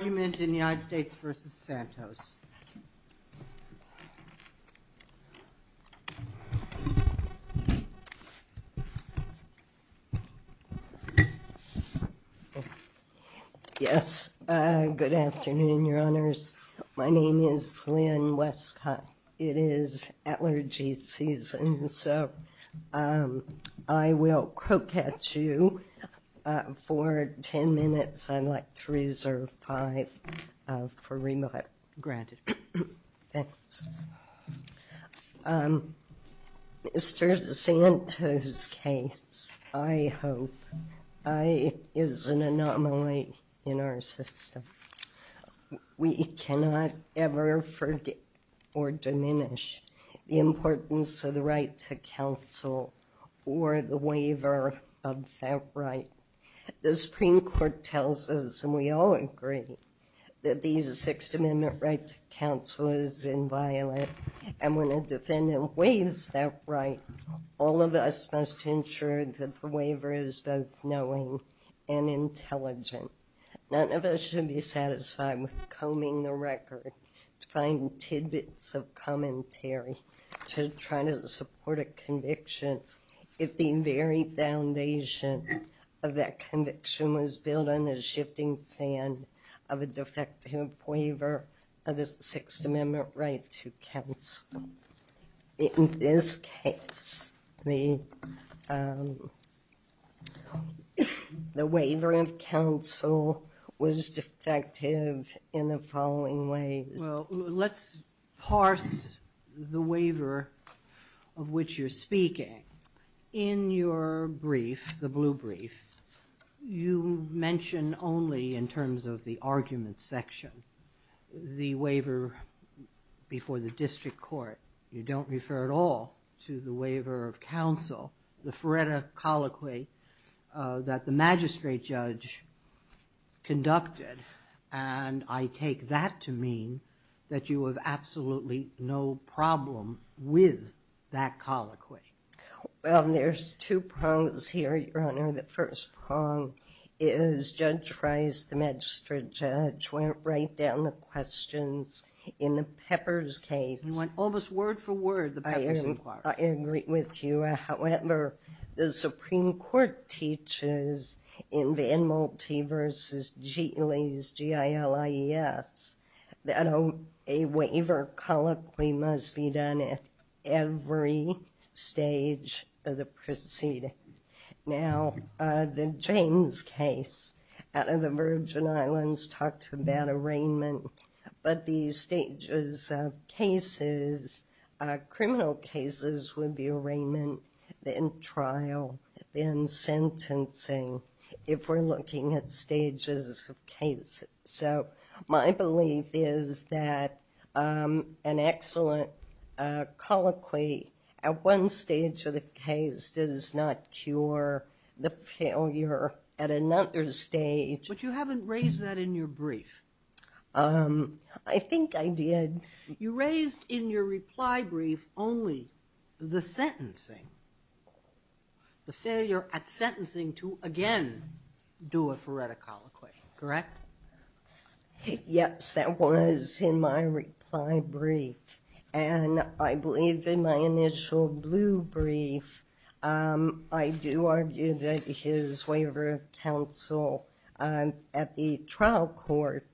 In the United States v. Santos Yes, good afternoon, your honors. My name is Lynn Westcott. It is allergy season, and so I will quote catch you for ten minutes. I'd like to reserve five for remit. Mr. Santos' case, I hope, is an anomaly in our system. We cannot ever forget or diminish the importance of the right to counsel or the waiver of that right. The Supreme Court tells us, and we all agree, that these Sixth Amendment right to counsel is inviolate, and when a defendant waives that right, all of us must ensure that the waiver is both knowing and intelligent. None of us should be satisfied with combing the record to find tidbits of commentary to try to support a conviction if the very foundation of that conviction was built on the shifting sand of a defective waiver of the Sixth Amendment right to counsel. In this case, the waiver of the Sixth Amendment is defective in the following ways. Well, let's parse the waiver of which you're speaking. In your brief, the blue brief, you mention only in terms of the argument section the waiver before the district court. You don't refer at all to the waiver of counsel, the And I take that to mean that you have absolutely no problem with that colloquy. Well, there's two prongs here, Your Honor. The first prong is Judge Fries, the magistrate judge, went right down the questions in the Peppers case. He went almost word for word, the Peppers inquiry. I agree with you. However, the Supreme Court teaches in Van Moltie v. Giles, G-I-L-I-E-S, that a waiver colloquy must be done at every stage of the proceeding. Now, the James case out of the Virgin Islands talked about arraignment, but these stages of cases, criminal cases, would be arraignment, then trial, then sentencing, if we're looking at stages of cases. So, my belief is that an excellent colloquy at one stage of the case does not cure the failure at another stage. But you haven't raised that in your brief. I think I did. You raised in your reply brief only the sentencing, the failure at sentencing to again do a forensic colloquy, correct? Yes, that was in my reply brief, and I believe in my initial blue brief, I do argue that his waiver of counsel at the trial court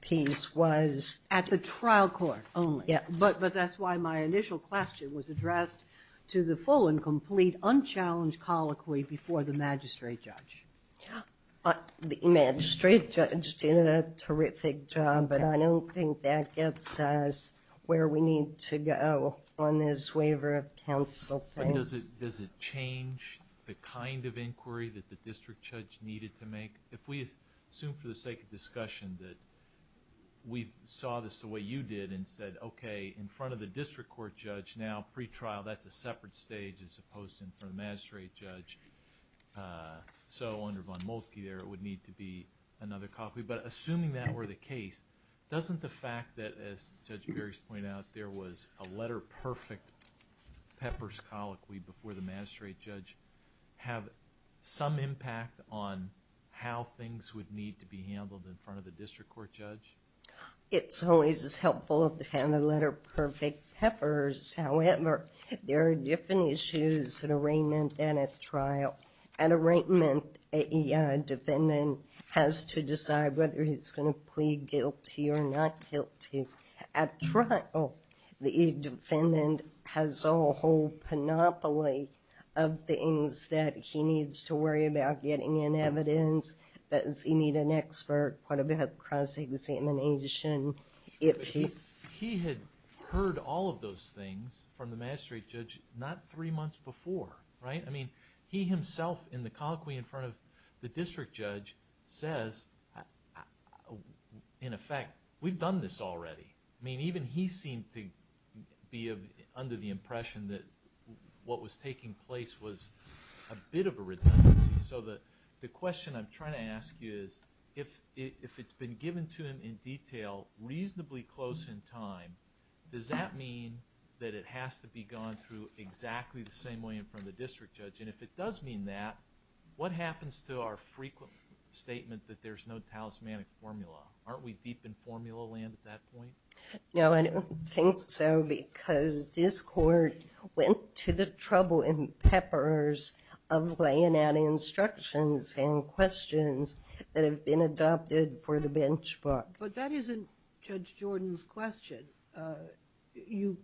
piece was... At the trial court only? Yes. But that's why my initial question was addressed to the full and complete unchallenged colloquy before the magistrate judge. But the magistrate judge did a terrific job, but I don't think that gets us where we need to go on this waiver of counsel thing. Does it change the kind of inquiry that the district judge needed to make? If we assume for the sake of discussion that we saw this the way you did and said, okay, in front of the district court judge, now pre-trial, that's a separate stage as opposed to in front of the magistrate judge, so under Von Moltke there, it would need to be another colloquy. But assuming that were the case, doesn't the fact that, as Judge Berry's pointed out, there was a letter-perfect peppers colloquy before the magistrate judge have some impact on how things would need to be handled in front of the district court judge? It's always helpful to have the letter-perfect peppers. However, there are different issues at arraignment and at trial. At arraignment, a defendant has to decide whether he's going to plead guilty or not guilty. At trial, the defendant has a whole panoply of things that he needs to worry about getting in evidence, does he need an expert, what about cross-examination. He had heard all of those things from the magistrate judge not three months before, right? I mean, he himself in the colloquy in front of the district judge says, in effect, we've done this already. I mean, even he seemed to be under the impression that what was taking place was a bit of a redundancy. So the question I'm trying to ask you is, if it's been given to him in detail, reasonably close in time, does that mean that it has to be gone through exactly the same way in front of the district judge? And if it does mean that, what happens to our frequent statement that there's no talismanic formula? Aren't we deep in formula land at that point? No, I don't think so because this court went to the trouble and peppers of laying out instructions and questions that have been adopted for the bench book. But that isn't Judge Jordan's question. You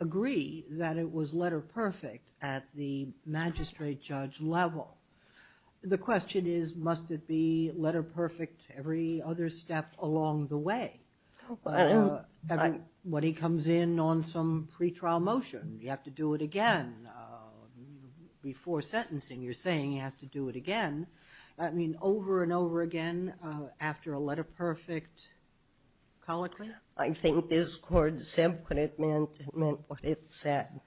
agree that it was letter-perfect at the magistrate judge level. The question is, must it be letter-perfect every other step along the way? When he comes in on some pretrial motion, you have to do it again. Before sentencing, you're saying he has to do it again. I mean, over and over again after a letter-perfect colloquy? I think this court said what it meant. It meant what it said.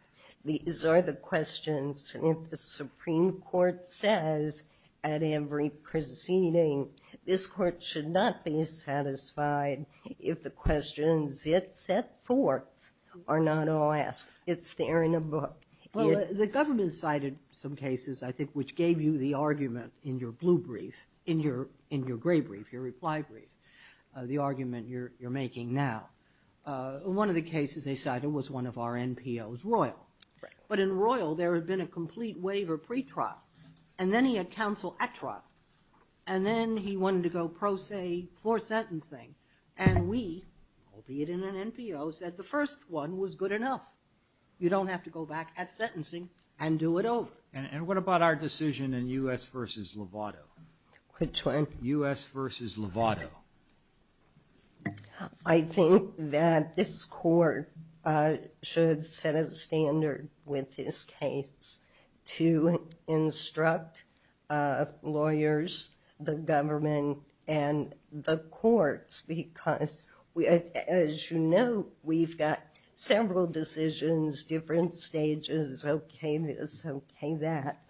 These are the questions. And if the Supreme Court says at every proceeding, this court should not be satisfied if the questions it set forth are not all asked. It's there in a book. Well, the government cited some cases, I think, which gave you the argument in your blue brief, in your gray brief, your reply brief, the argument you're making now. One of the cases they cited was one of our NPOs, Royal. But in Royal, there had been a complete waiver pretrial. And then he had counsel at trial. And then he wanted to go pro se for sentencing. And we, albeit in an NPO, said the first one was good enough. You don't have to go back at sentencing and do it over. And what about our case? I think that this court should set a standard with this case to instruct lawyers, the government, and the courts. Because, as you know, we've got several decisions, different stages. Okay, this. Okay, that.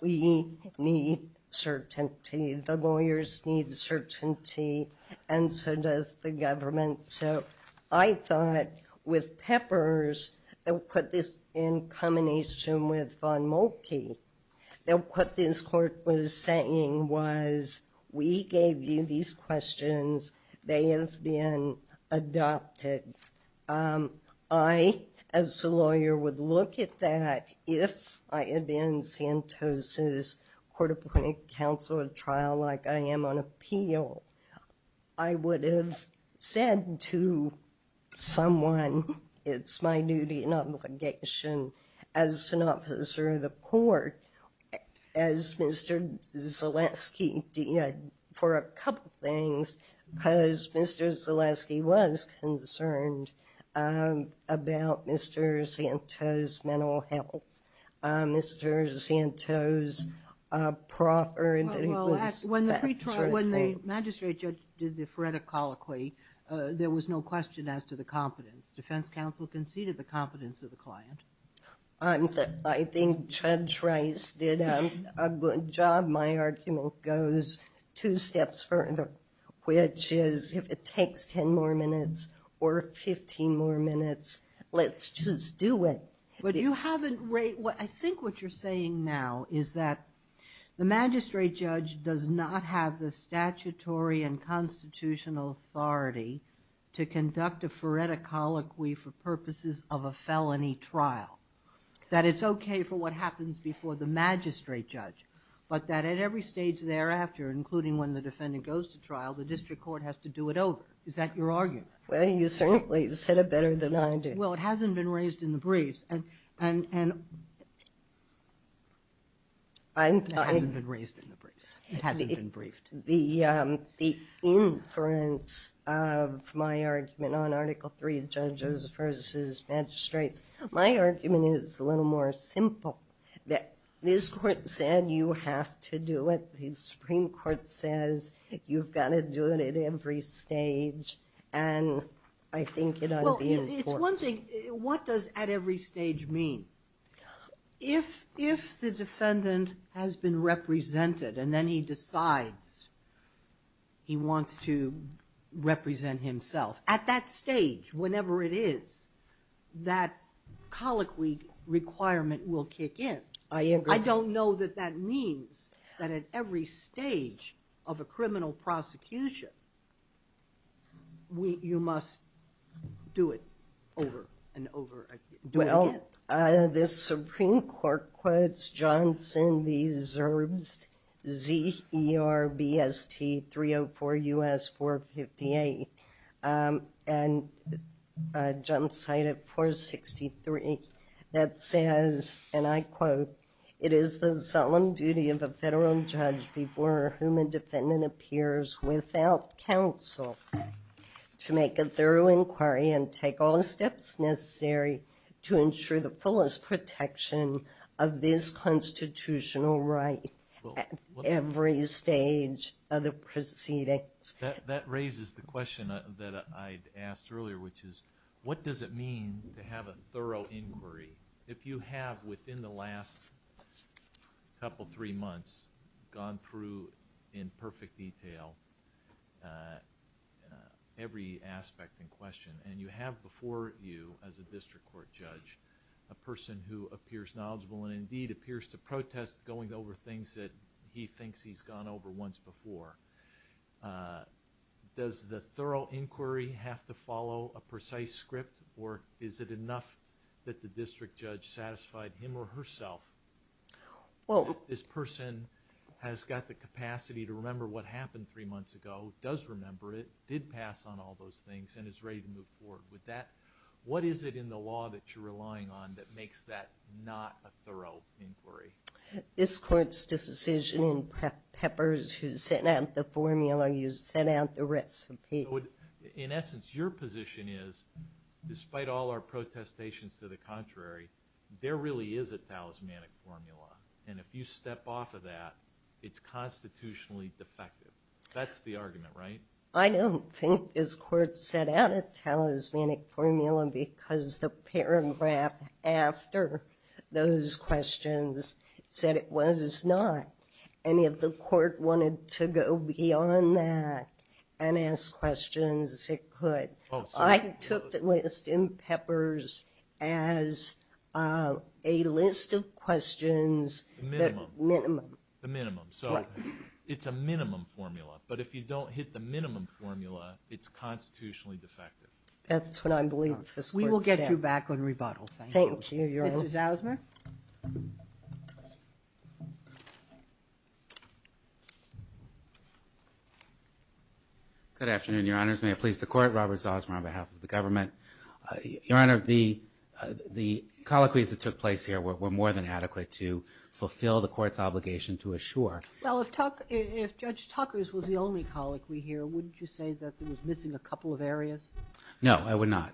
We need certainty. The lawyers need certainty. And so does the government. So I thought with Peppers, and put this in combination with Von Mulkey, that what this court was saying was, we gave you these questions. They have been adopted. I, as a lawyer, would look at that if I had been in Santos' court appointed counsel at trial, like I am on appeal. I would have said to someone, it's my duty and obligation as an officer of the defense counsel, I'm concerned about Mr. Santos' mental health. Mr. Santos' proffering. When the magistrate judge did the phoretic colloquy, there was no question as to the competence. Defense counsel conceded the competence of the client. I think Judge Rice did a good job. My argument goes two steps further, which is, if it takes 10 more minutes, or 15 more minutes, let's just do it. I think what you're saying now is that the magistrate judge does not have the statutory and constitutional authority to conduct a phoretic colloquy for purposes of a felony trial. That it's okay for what happens before the magistrate judge, but that at every stage thereafter, including when the defendant goes to trial, the district court has to do it over. Is that your argument? Well, you certainly said it better than I did. Well, it hasn't been raised in the briefs. It hasn't been raised in the briefs. It hasn't been briefed. The inference of my argument on Article III judges versus magistrates, my argument is a little more simple. This court said you have to do it. The Supreme Court says you've got to do it at every stage, and I think it ought to be enforced. It's one thing. What does at every stage mean? If the defendant has been represented and then he colloquy requirement will kick in. I agree. I don't know that that means that at every stage of a criminal prosecution, you must do it over and over again. Do it again. The Supreme Court quotes Johnson v. Zerbst, Z-E-R-B-S-T 304 U.S. 458, and jump site at 463, that says, and I quote, it is the solemn duty of a federal judge before whom a defendant appears without counsel to make a thorough inquiry and take all the steps necessary to ensure the fullest protection of this constitutional right at every stage of the proceedings. That raises the question that I asked earlier, which is, what does it mean to have a thorough inquiry? If you have, within the last couple, three months, gone through in perfect detail every aspect in question, and you have before you, as a district court judge, a person who appears knowledgeable and indeed appears to protest going over things that he thinks he's gone over once before, does the thorough inquiry have to follow a precise script, or is it enough that the district judge satisfied him or herself that this person has got the capacity to remember what happened three months ago, does remember it, did pass on all those things, and is ready to move forward with that? What is it in the law that you're relying on that makes that not a thorough inquiry? This court's decision in Peppers who sent out the formula, you sent out the recipe. In essence, your position is, despite all our protestations to the contrary, there really is a talismanic formula, and if you step off of that, it's constitutionally defective. That's the argument, right? I don't think this court set out a talismanic formula because the paragraph after those questions said it was not, and if the court wanted to go beyond that and ask questions, it could. I took the list in Peppers as a list of minimum, the minimum, so it's a minimum formula, but if you don't hit the minimum formula, it's constitutionally defective. That's what I believe this court said. We will get you back on rebuttal. Thank you. Mr. Zausman? Good afternoon, your honors. May it please the court, Robert Zausman on behalf of the government. Your honor, the colloquies that took place here were more than adequate to fulfill the court's obligation to assure. Well, if Judge Tucker's was the only colloquy here, wouldn't you say that there was missing a couple of areas? No, I would not.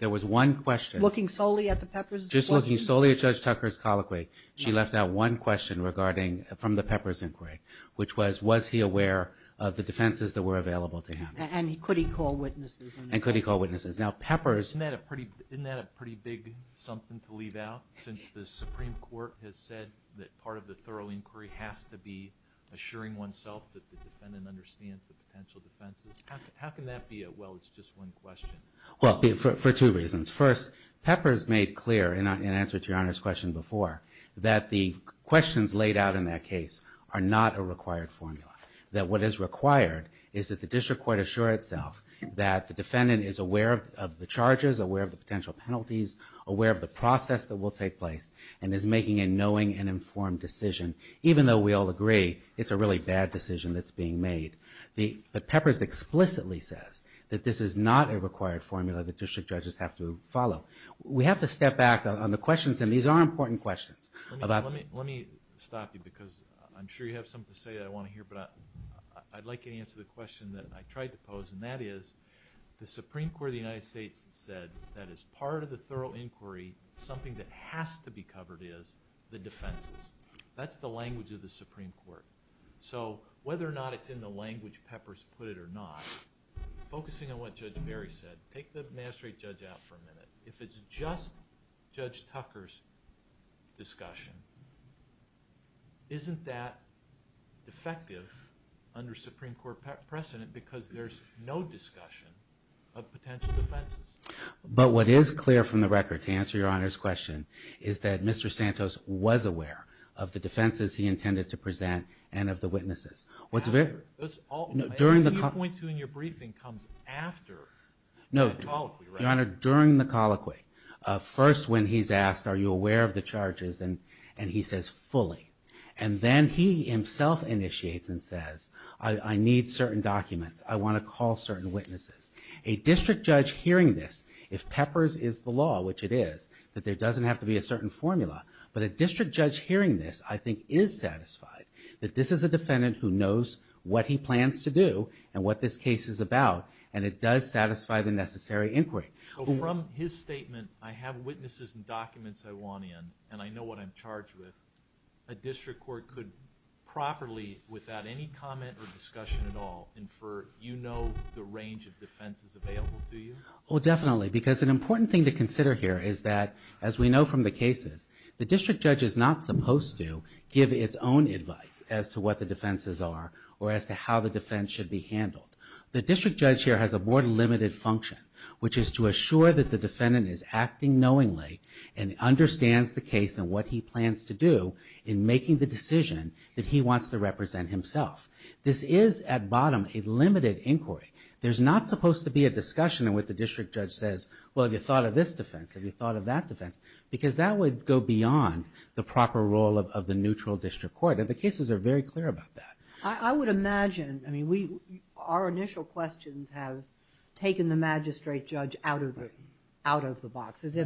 There was one question. Looking solely at the Peppers? Just looking solely at Judge Tucker's colloquy, she left out one question regarding, from the Peppers inquiry, which was, was he aware of the defenses that were available to him? And could he call witnesses? And could he call witnesses? Now, the Supreme Court has said that part of the thorough inquiry has to be assuring oneself that the defendant understands the potential defenses. How can that be a, well, it's just one question? Well, for two reasons. First, Peppers made clear, in answer to your honor's question before, that the questions laid out in that case are not a required formula. That what is required is that the district court assure itself that the defendant is aware of the charges, aware of the potential penalties, aware of the process that will take place, and is making a knowing and informed decision, even though we all agree it's a really bad decision that's being made. The Peppers explicitly says that this is not a required formula that district judges have to follow. We have to step back on the questions, and these are important questions. Let me stop you because I'm sure you have something to say that I want to hear, but I'd like you to answer the question that I tried to the thorough inquiry, something that has to be covered is the defenses. That's the language of the Supreme Court. So, whether or not it's in the language Peppers put it or not, focusing on what Judge Berry said, take the magistrate judge out for a minute. If it's just Judge Tucker's discussion, isn't that defective under Supreme Court precedent because there's no discussion of potential defenses? But what is clear from the record, to answer your Honor's question, is that Mr. Santos was aware of the defenses he intended to present and of the witnesses. What's very... That's all... During the... I think you point to in your briefing comes after the colloquy, right? No. Your Honor, during the colloquy, first when he's asked, are you aware of the charges, and he says fully, and then he himself initiates and says, I need certain documents. I want to call certain witnesses. A district judge hearing this, if Peppers is the law, which it is, that there doesn't have to be a certain formula, but a district judge hearing this, I think is satisfied that this is a defendant who knows what he plans to do and what this case is about, and it does satisfy the necessary inquiry. So, from his statement, I have witnesses and documents I want in, and I know what I'm charged with, a district court could properly, without any comment or discussion at all, infer, you know, the range of defenses available to you? Well, definitely, because an important thing to consider here is that, as we know from the cases, the district judge is not supposed to give its own advice as to what the defenses are or as to how the defense should be handled. The district judge here has a more limited function, which is to assure that the defendant is acting knowingly and understands the case and what he plans to do in making the decision that he wants to represent himself. This is, at bottom, a limited inquiry. There's not supposed to be a discussion in what the district judge says, well, have you thought of this defense? Have you thought of that defense? Because that would go beyond the proper role of the neutral district court, and the cases are very clear about that. I would imagine, I mean, our initial questions have taken the magistrate judge out of the box, as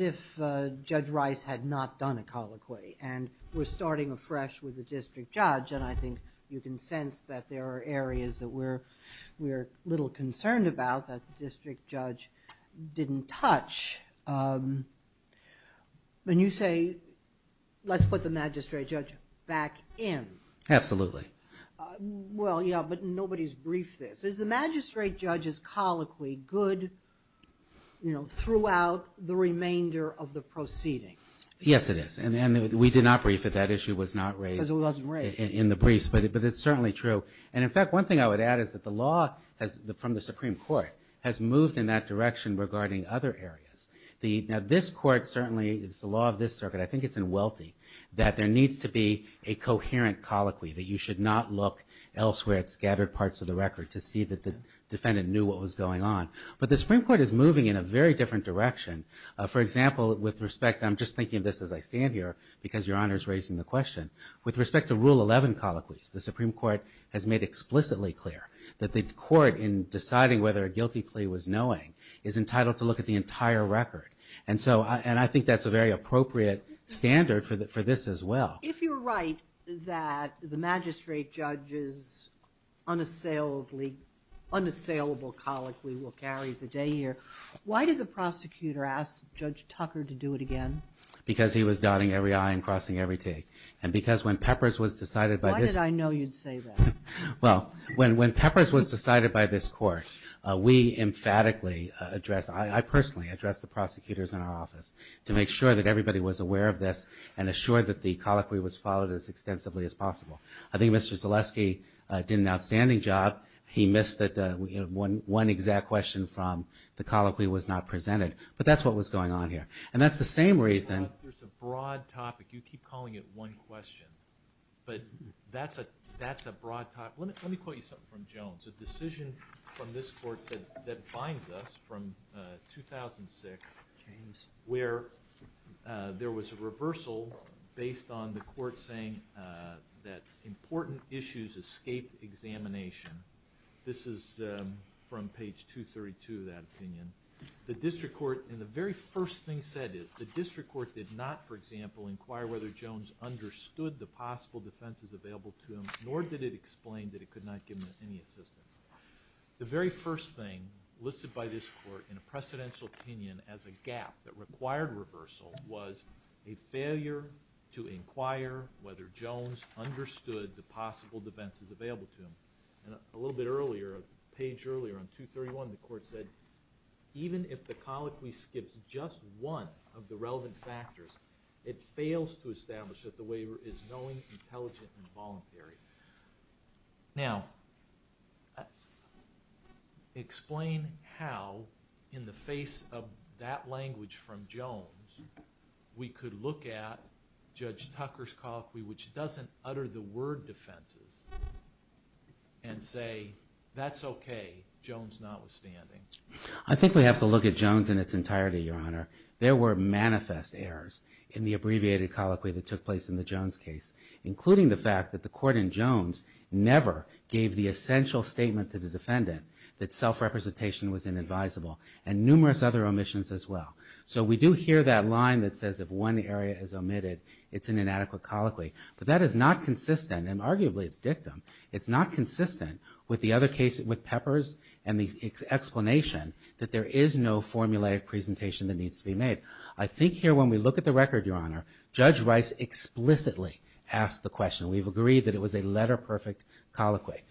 if Judge Rice had not done a colloquy, and we're starting afresh with the district judge, and I think you can sense that there are areas that we're a little concerned about that the district judge didn't touch. When you say, let's put the magistrate judge back in. Absolutely. Well, yeah, but nobody's briefed this. Is the magistrate judge's colloquy good, you know, throughout the remainder of the proceedings? Yes, it is, and we did not brief it. That issue was not raised. Because it wasn't raised. In the briefs, but it's certainly true, and in fact, one thing I would add is that the law from the Supreme Court has moved in that direction regarding other areas. Now, this court certainly, it's the law of this circuit, I think it's in Welty, that there needs to be a coherent colloquy, that you should not look elsewhere at scattered parts of the record to see that the defendant knew what was going on. But the Supreme Court is moving in a very different direction. For example, with respect, I'm just thinking of this as I stand here, because Your Honor's raising the question. With respect to Rule 11 colloquies, the Supreme Court has made explicitly clear that the court, in deciding whether a guilty plea was knowing, is entitled to look at the entire record. And so, and I think that's a very appropriate standard for this as well. If you're right that the magistrate judge's unassailable colloquy will carry the day here, why did the prosecutor ask Judge Tucker to do it again? Because he was dotting every I and crossing every T. And because when Peppers was decided by this. Why did I know you'd say that? Well, when Peppers was decided by this court, we emphatically addressed, I personally addressed the prosecutors in our office to make sure that everybody was aware of this and assured that the colloquy was followed as extensively as possible. I think Mr. Zaleski did an outstanding job. He missed one exact question from the colloquy was not presented. But that's what was going on here. And that's the same reason. There's a broad topic. You keep calling it one question. But that's a broad topic. Let me quote you something from Jones. A decision from this court that binds us from 2006. James. Where there was a reversal based on the court saying that important issues escaped examination. This is from page 232 of that opinion. The district court in the very first thing said is the district court did not, for example, inquire whether Jones understood the possible defenses available to him, nor did it explain that it could not give him any assistance. The very first thing listed by this court in a precedential opinion as a gap that required reversal was a failure to inquire whether Jones understood the possible defenses available to him. And a little bit earlier, a page earlier on 231, the court said, even if the colloquy skips just one of the relevant factors, it fails to establish that the waiver is knowing, intelligent, and voluntary. Now, explain how in the face of that language from Jones, we could look at Judge Tucker's colloquy, which doesn't utter the word defenses, and say, that's okay. Jones notwithstanding. I think we have to look at Jones in its entirety, Your Honor. There were manifest errors in the abbreviated colloquy that took place in the Jones case, including the fact that the court in Jones never gave the essential statement to the defendant that self-representation was inadvisable, and numerous other omissions as well. So we do hear that line that says if one area is omitted, it's an inadequate colloquy. But that is not consistent, and arguably it's dictum, it's not consistent with the other case with Peppers and the explanation that there is no formulaic presentation that needs to be made. Judge Rice explicitly asked the question. We've agreed that it was a letter-perfect colloquy.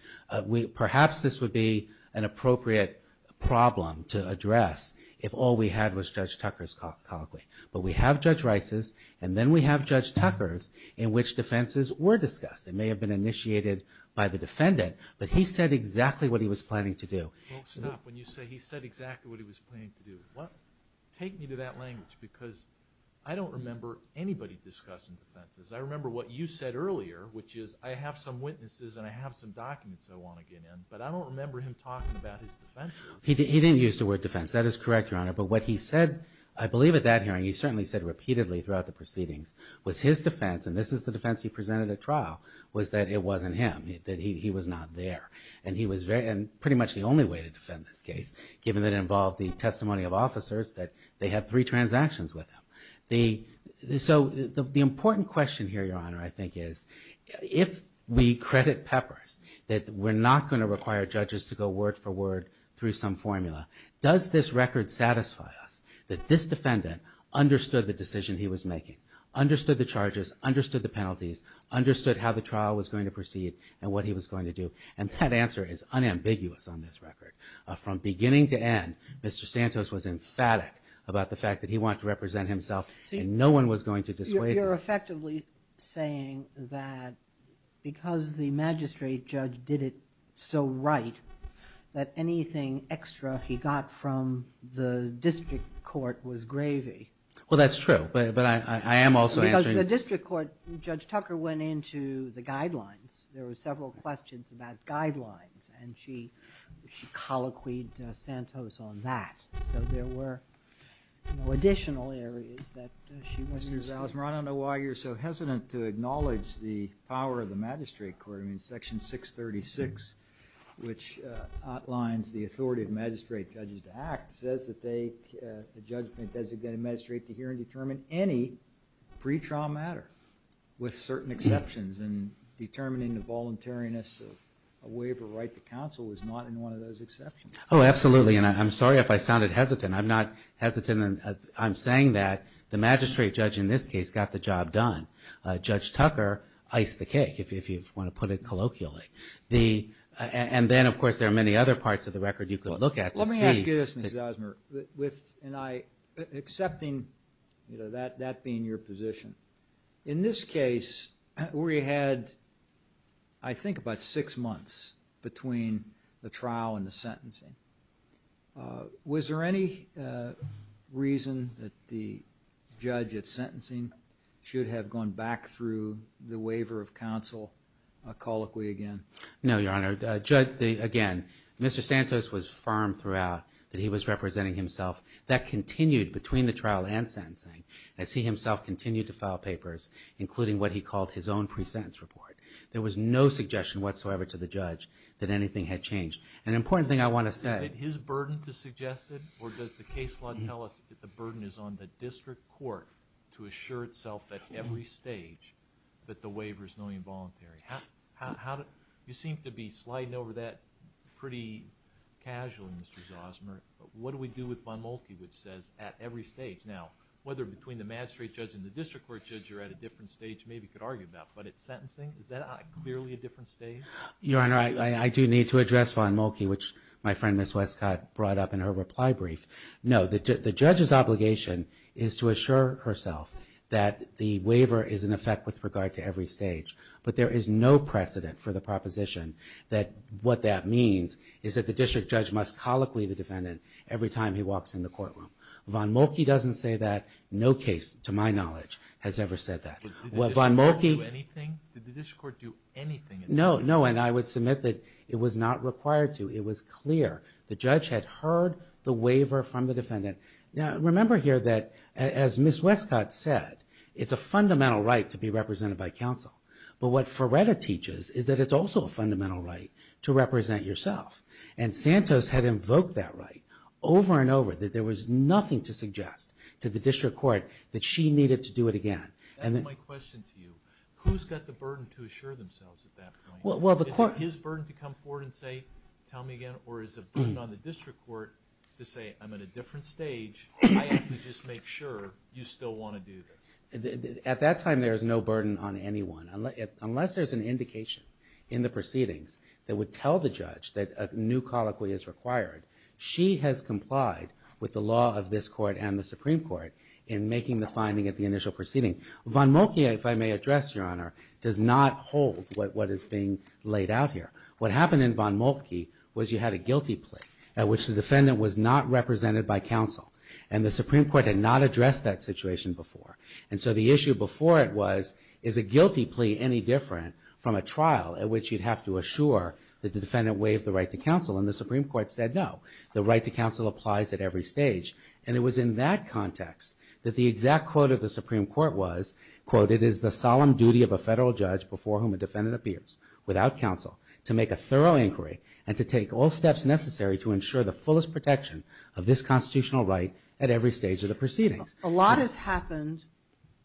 Perhaps this would be an appropriate problem to address if all we had was Judge Tucker's colloquy. But we have Judge Rice's, and then we have Judge Tucker's, in which defenses were discussed. It may have been initiated by the defendant, but he said exactly what he was planning to do. Well, stop. When you say he said exactly what he was planning to do, take me to that language, because I don't remember anybody discussing defenses. I remember what you said earlier, which is I have some witnesses, and I have some documents I want to get in, but I don't remember him talking about his defense. He didn't use the word defense. That is correct, Your Honor. But what he said, I believe at that hearing, he certainly said repeatedly throughout the proceedings, was his defense, and this is the defense he presented at trial, was that it wasn't him, that he was not there. And he was very, and pretty much the only way to defend this case, given that it involved the testimony of officers, that they had three transactions with him. So the important question here, Your Honor, I think is, if we credit peppers, that we're not going to require judges to go word for word through some formula, does this record satisfy us that this defendant understood the decision he was making, understood the charges, understood the penalties, understood how the trial was going to proceed, and what he was going to do? And that answer is unambiguous on this record. From beginning to end, Mr. Santos was emphatic about the fact that he wanted to represent himself, and no one was going to dissuade him. You're effectively saying that because the magistrate judge did it so right, that anything extra he got from the district court was gravy. Well, that's true, but I am also answering... Because the district court, Judge Tucker went into the guidelines. There were several questions about guidelines, and she colloquied Santos on that. So there were additional areas that she wasn't... Mr. Zales, I don't know why you're so hesitant to acknowledge the power of the magistrate court. I mean, Section 636, which outlines the authority of magistrate judges to act, says that they, a judge may designate a magistrate to hear and determine any pretrial matter with certain exceptions, and determining the voluntariness of a waiver right to counsel was not in one of those exceptions. Oh, absolutely. And I'm sorry if I sounded hesitant. I'm not hesitant in... I'm saying that the magistrate judge in this case got the job done. Judge Tucker iced the cake, if you want to put it colloquially. And then, of course, there are many other parts of the record you could look at to see... Accepting that being your position, in this case, we had, I think, about six months between the trial and the sentencing. Was there any reason that the judge at sentencing should have gone back through the waiver of counsel colloquially again? No, Your Honor. Judge, again, Mr. Santos was firm throughout that he was representing himself. That continued between the trial and sentencing as he himself continued to file papers, including what he called his own pre-sentence report. There was no suggestion whatsoever to the judge that anything had changed. An important thing I want to say... Is it his burden to suggest it, or does the case law tell us that the burden is on the district court to assure itself at every stage that the waiver is knowingly involuntary? You seem to be sliding over that pretty casually, Mr. Zosmer. What do we do with Von Moltke, which says, at every stage? Now, whether between the magistrate judge and the district court judge, you're at a different stage, maybe you could argue about, but at sentencing, is that clearly a different stage? Your Honor, I do need to address Von Moltke, which my friend, Ms. Westcott, brought up in her reply brief. No, the judge's obligation is to assure herself that the waiver is in effect with regard to every stage, but there is no precedent for the proposition that what that means is that the district judge must colloquy the defendant every time he walks in the courtroom. Von Moltke doesn't say that. No case, to my knowledge, has ever said that. Did the district court do anything? No, and I would submit that it was not required to. It was clear. The judge had heard the waiver from the defendant. Now, remember here that, as Ms. Westcott said, it's a fundamental right to be represented by counsel, but what Ferretta teaches is that it's also a fundamental right to represent yourself, and Santos had invoked that right over and over, that there was nothing to suggest to the district court that she needed to do it again. That's my question to you. Who's got the burden to assure themselves at that point? Is it his burden to come forward and say, tell me again, or is it burden on the district court to say, I'm at a different stage, I have to just make sure you still want to do this? At that time, there is no burden on anyone, unless there's an indication in the proceedings that would tell the judge that a new colloquy is required. She has complied with the law of this court and the Supreme Court in making the finding at the initial proceeding. Von Moltke, if I may address, Your Honor, does not hold what is being laid out here. What happened in Von Moltke was you had a guilty plea at which the defendant was not represented by counsel, and the Supreme Court had not addressed that situation before, so the issue before it was, is a guilty plea any different from a trial at which you'd have to assure that the defendant waived the right to counsel, and the Supreme Court said no. The right to counsel applies at every stage, and it was in that context that the exact quote of the Supreme Court was, quote, it is the solemn duty of a federal judge before whom a defendant appears without counsel to make a thorough inquiry and to take all steps necessary to ensure the fullest protection of this constitutional right at every stage of the proceedings. A lot has happened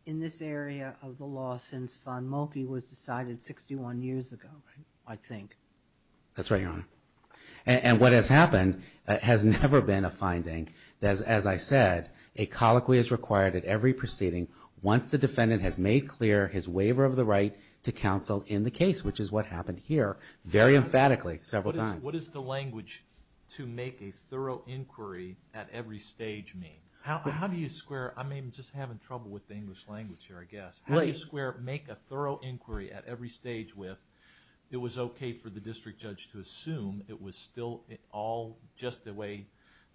in this area of the law since Von Moltke was decided 61 years ago, I think. That's right, Your Honor. And what has happened has never been a finding. As I said, a colloquy is required at every proceeding once the defendant has made clear his waiver of the right to counsel in the case, which is what happened here very emphatically several times. What does the language to make a thorough inquiry at every stage mean? How do you square? I'm just having trouble with the English language here, I guess. How do you square make a thorough inquiry at every stage with it was OK for the district judge to assume it was still all just the way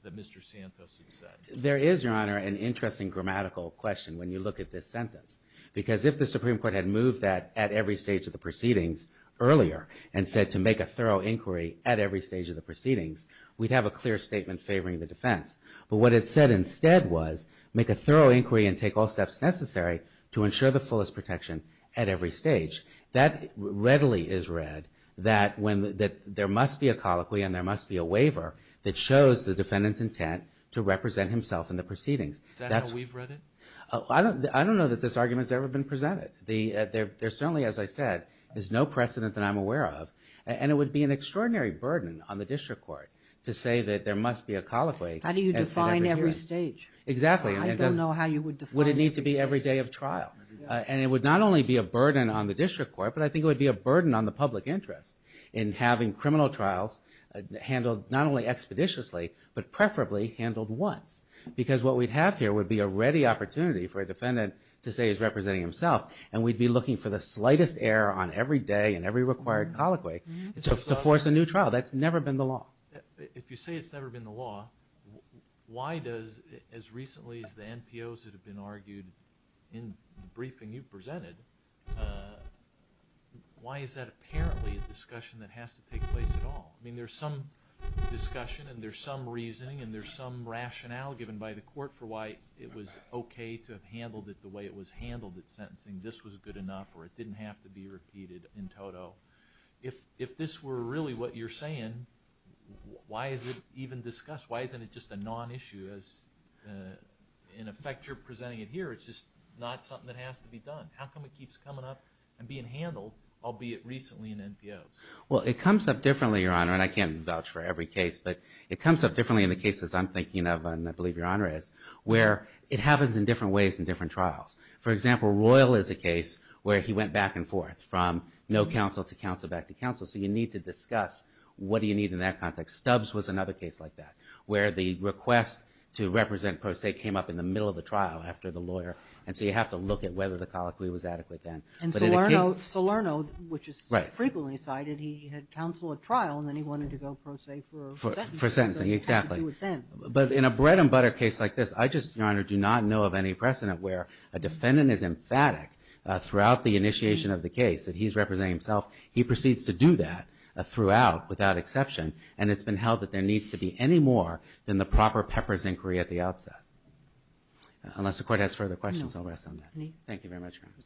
that Mr. Santos had said? There is, Your Honor, an interesting grammatical question when you look at this sentence, because if the Supreme Court had moved that at every stage of the proceedings earlier and said to make a thorough inquiry at every stage of the proceedings, we'd have a clear statement favoring the defense. But what it said instead was make a thorough inquiry and take all steps necessary to ensure the fullest protection at every stage. That readily is read that there must be a colloquy and there must be a waiver that shows the defendant's intent to represent himself in the proceedings. Is that how we've read it? I don't know that this argument's ever been presented. There certainly, as I said, is no precedent that I'm aware of. And it would be an extraordinary burden on the district court to say that there must be a colloquy. How do you define every stage? Exactly. I don't know how you would define it. Would it need to be every day of trial? And it would not only be a burden on the district court, but I think it would be a burden on the public interest in having criminal trials handled not only expeditiously, but preferably handled once. Because what we'd have here would be a ready opportunity for a defendant to say he's representing himself and we'd be looking for the slightest error on every day and every required colloquy to force a new trial. That's never been the law. If you say it's never been the law, why does, as recently as the NPOs that have been argued in the briefing you presented, why is that apparently a discussion that has to take place at all? I mean, there's some discussion and there's some reasoning and there's some rationale given by the court for why it was okay to have handled it the way it was handled at sentencing. This was good enough or it didn't have to be repeated in toto. If this were really what you're saying, why is it even discussed? Why isn't it just a non-issue as in effect you're presenting it here? It's just not something that has to be done. How come it keeps coming up and being handled, albeit recently in NPOs? Well, it comes up differently, Your Honor, and I can't vouch for every case, but it comes up differently in the cases I'm thinking of and I believe Your Honor is, where it happens in different ways in different trials. For example, Royal is a case where he went back and forth from no counsel to counsel, back to counsel. So you need to discuss what do you need in that context. Stubbs was another case like that, where the request to represent pro se came up in the middle of the trial after the lawyer and so you have to look at whether the colloquy was adequate then. And Salerno, which is frequently cited, he had counsel at trial and then he wanted to go pro se for sentencing. Exactly, but in a bread and butter case like this, I just, Your Honor, do not know of any precedent where a defendant is emphatic throughout the initiation of the case that he's representing himself. He proceeds to do that throughout without exception and it's been held that there needs to be any more than the proper Pepper's inquiry at the outset. Unless the court has further questions, I'll rest on that. Thank you very much, Your Honor.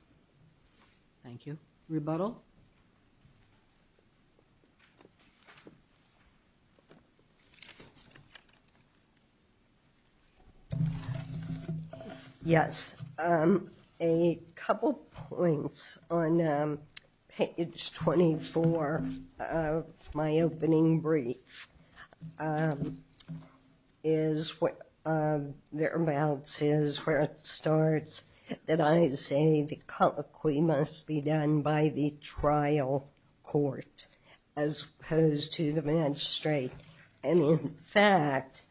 Thank you. Rebuttal. Yes, a couple points on page 24 of my opening brief is there are bounces where it starts that I say the colloquy must be done by the trial court as opposed to the magistrate. And in fact,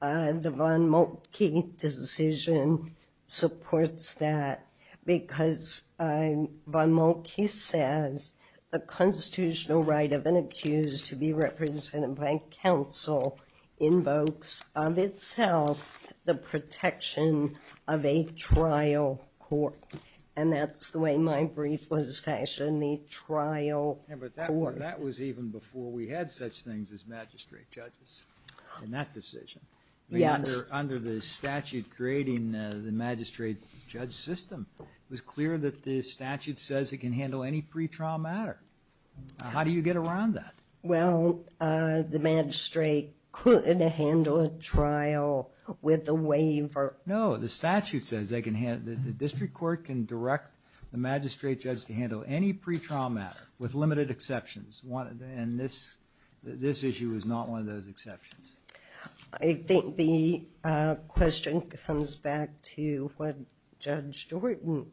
the Von Moltke decision supports that because Von Moltke says the constitutional right of an accused to be represented by counsel invokes of itself the protection of a trial court and that's the way my brief was fashioned, the trial court. That was even before we had such things as magistrate judges in that decision. Yes. Under the statute creating the magistrate judge system, it was clear that the statute says it can handle any pretrial matter. How do you get around that? Well, the magistrate couldn't handle a trial with a waiver. No, the statute says that the district court can direct the magistrate judge to handle any pretrial matter with limited exceptions. And this issue is not one of those exceptions. I think the question comes back to what Judge Jordan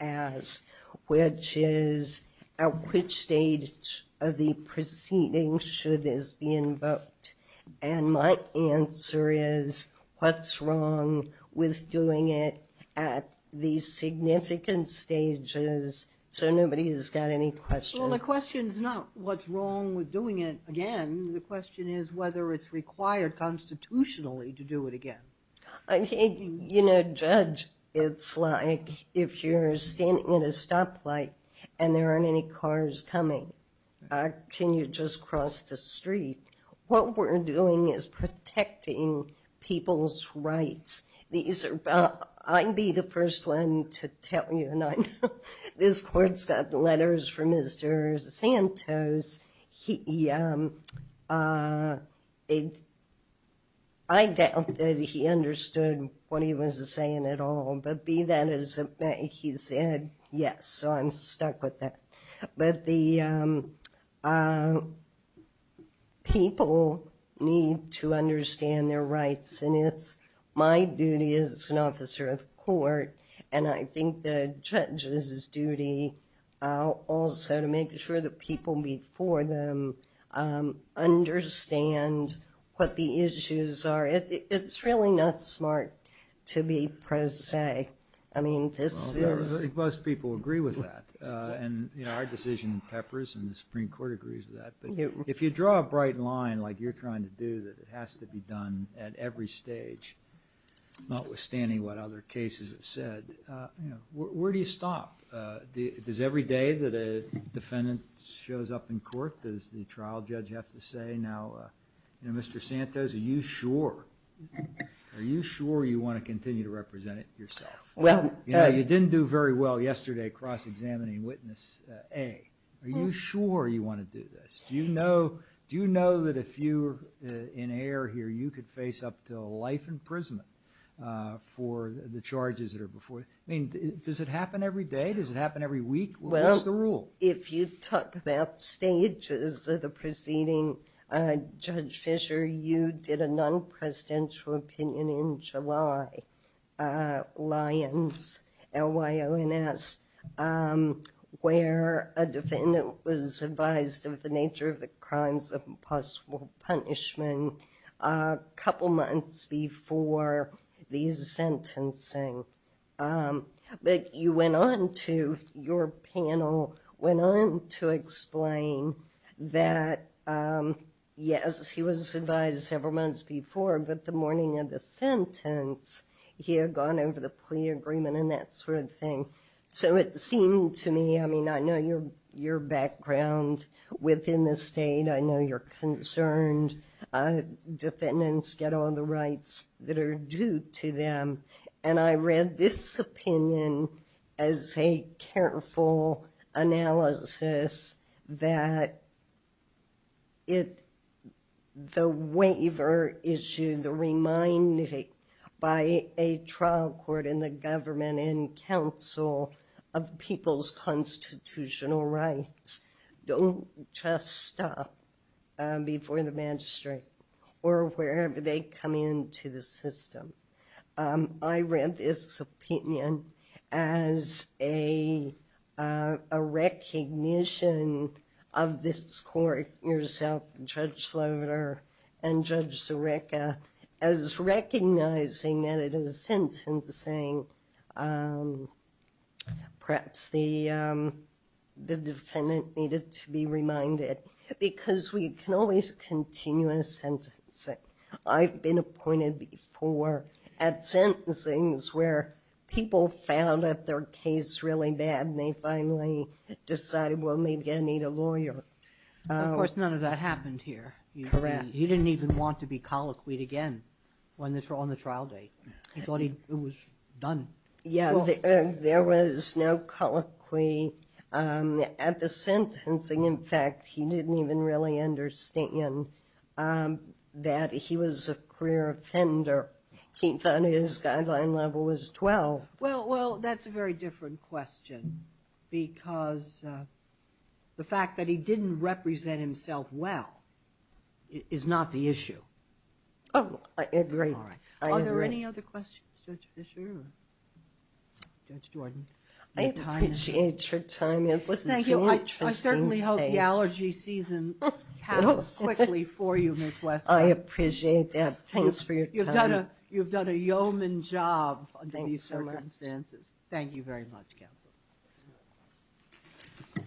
asked, which is at which stage of the proceeding should this be invoked? And my answer is what's wrong with doing it at these significant stages? So nobody has got any questions. Well, the question is not what's wrong with doing it again. The question is whether it's required constitutionally to do it again. I think, you know, Judge, it's like if you're standing in a stoplight and there aren't any cars coming, can you just cross the street? What we're doing is protecting people's rights. These are, I'd be the first one to tell you, and I know this court's got letters from Mr. Santos. He, I doubt that he understood what he was saying at all, but be that as it may, he said yes. So I'm stuck with that. But the people need to understand their rights. And it's my duty as an officer of the court, and I think the judge's duty also to make sure the people before them understand what the issues are. It's really not smart to be pro se. I mean, this is... Well, most people agree with that. And, you know, our decision in Peppers and the Supreme Court agrees with that. But if you draw a bright line like you're trying to do, that it has to be done at every stage, notwithstanding what other cases have said, where do you stop? Does every day that a defendant shows up in court, does the trial judge have to say, now, you know, Mr. Santos, are you sure? Are you sure you want to continue to represent it yourself? Well, you know, you didn't do very well yesterday cross-examining witness A. Are you sure you want to do this? Do you know that if you're in error here, you could face up to life imprisonment for the charges that are before you? I mean, does it happen every day? Does it happen every week? What's the rule? If you talk about stages of the proceeding, Judge Fischer, you did a non-presidential opinion in July, Lyons, L-Y-O-N-S, where a defendant was advised of the nature of the crimes of impossible punishment a couple months before these sentencing. But you went on to your panel, went on to explain that, yes, he was advised several months before, but the morning of the sentence, he had gone over the plea agreement and that sort of thing. So it seemed to me, I mean, I know your background within the state. I know you're concerned defendants get all the rights that are due to them. And I read this opinion as a careful analysis that the waiver issue, the reminding by a trial court and the government and council of people's constitutional rights, don't just stop before the magistrate or wherever they come into the system. I read this opinion as a recognition of this court yourself, Judge Slaughter and Judge Zureka, as recognizing that it is sentencing. Perhaps the defendant needed to be reminded because we can always continue a sentencing. I've been appointed before at sentencing where people found out their case really bad and they finally decided, well, maybe I need a lawyer. Of course, none of that happened here. Correct. He didn't even want to be colloquied again when they were on the trial date. He thought it was done. Yeah, there was no colloquy at the sentencing. In fact, he didn't even really understand that he was a career offender. He thought his guideline level was 12. Well, that's a very different question because the fact that he didn't represent himself well is not the issue. Oh, I agree. All right. Are there any other questions, Judge Fischer or Judge Jordan? I appreciate your time. Thank you. I certainly hope the allergy season passes quickly for you, Ms. Westbrook. I appreciate that. Thanks for your time. You've done a yeoman job under these circumstances. Thank you very much, counsel.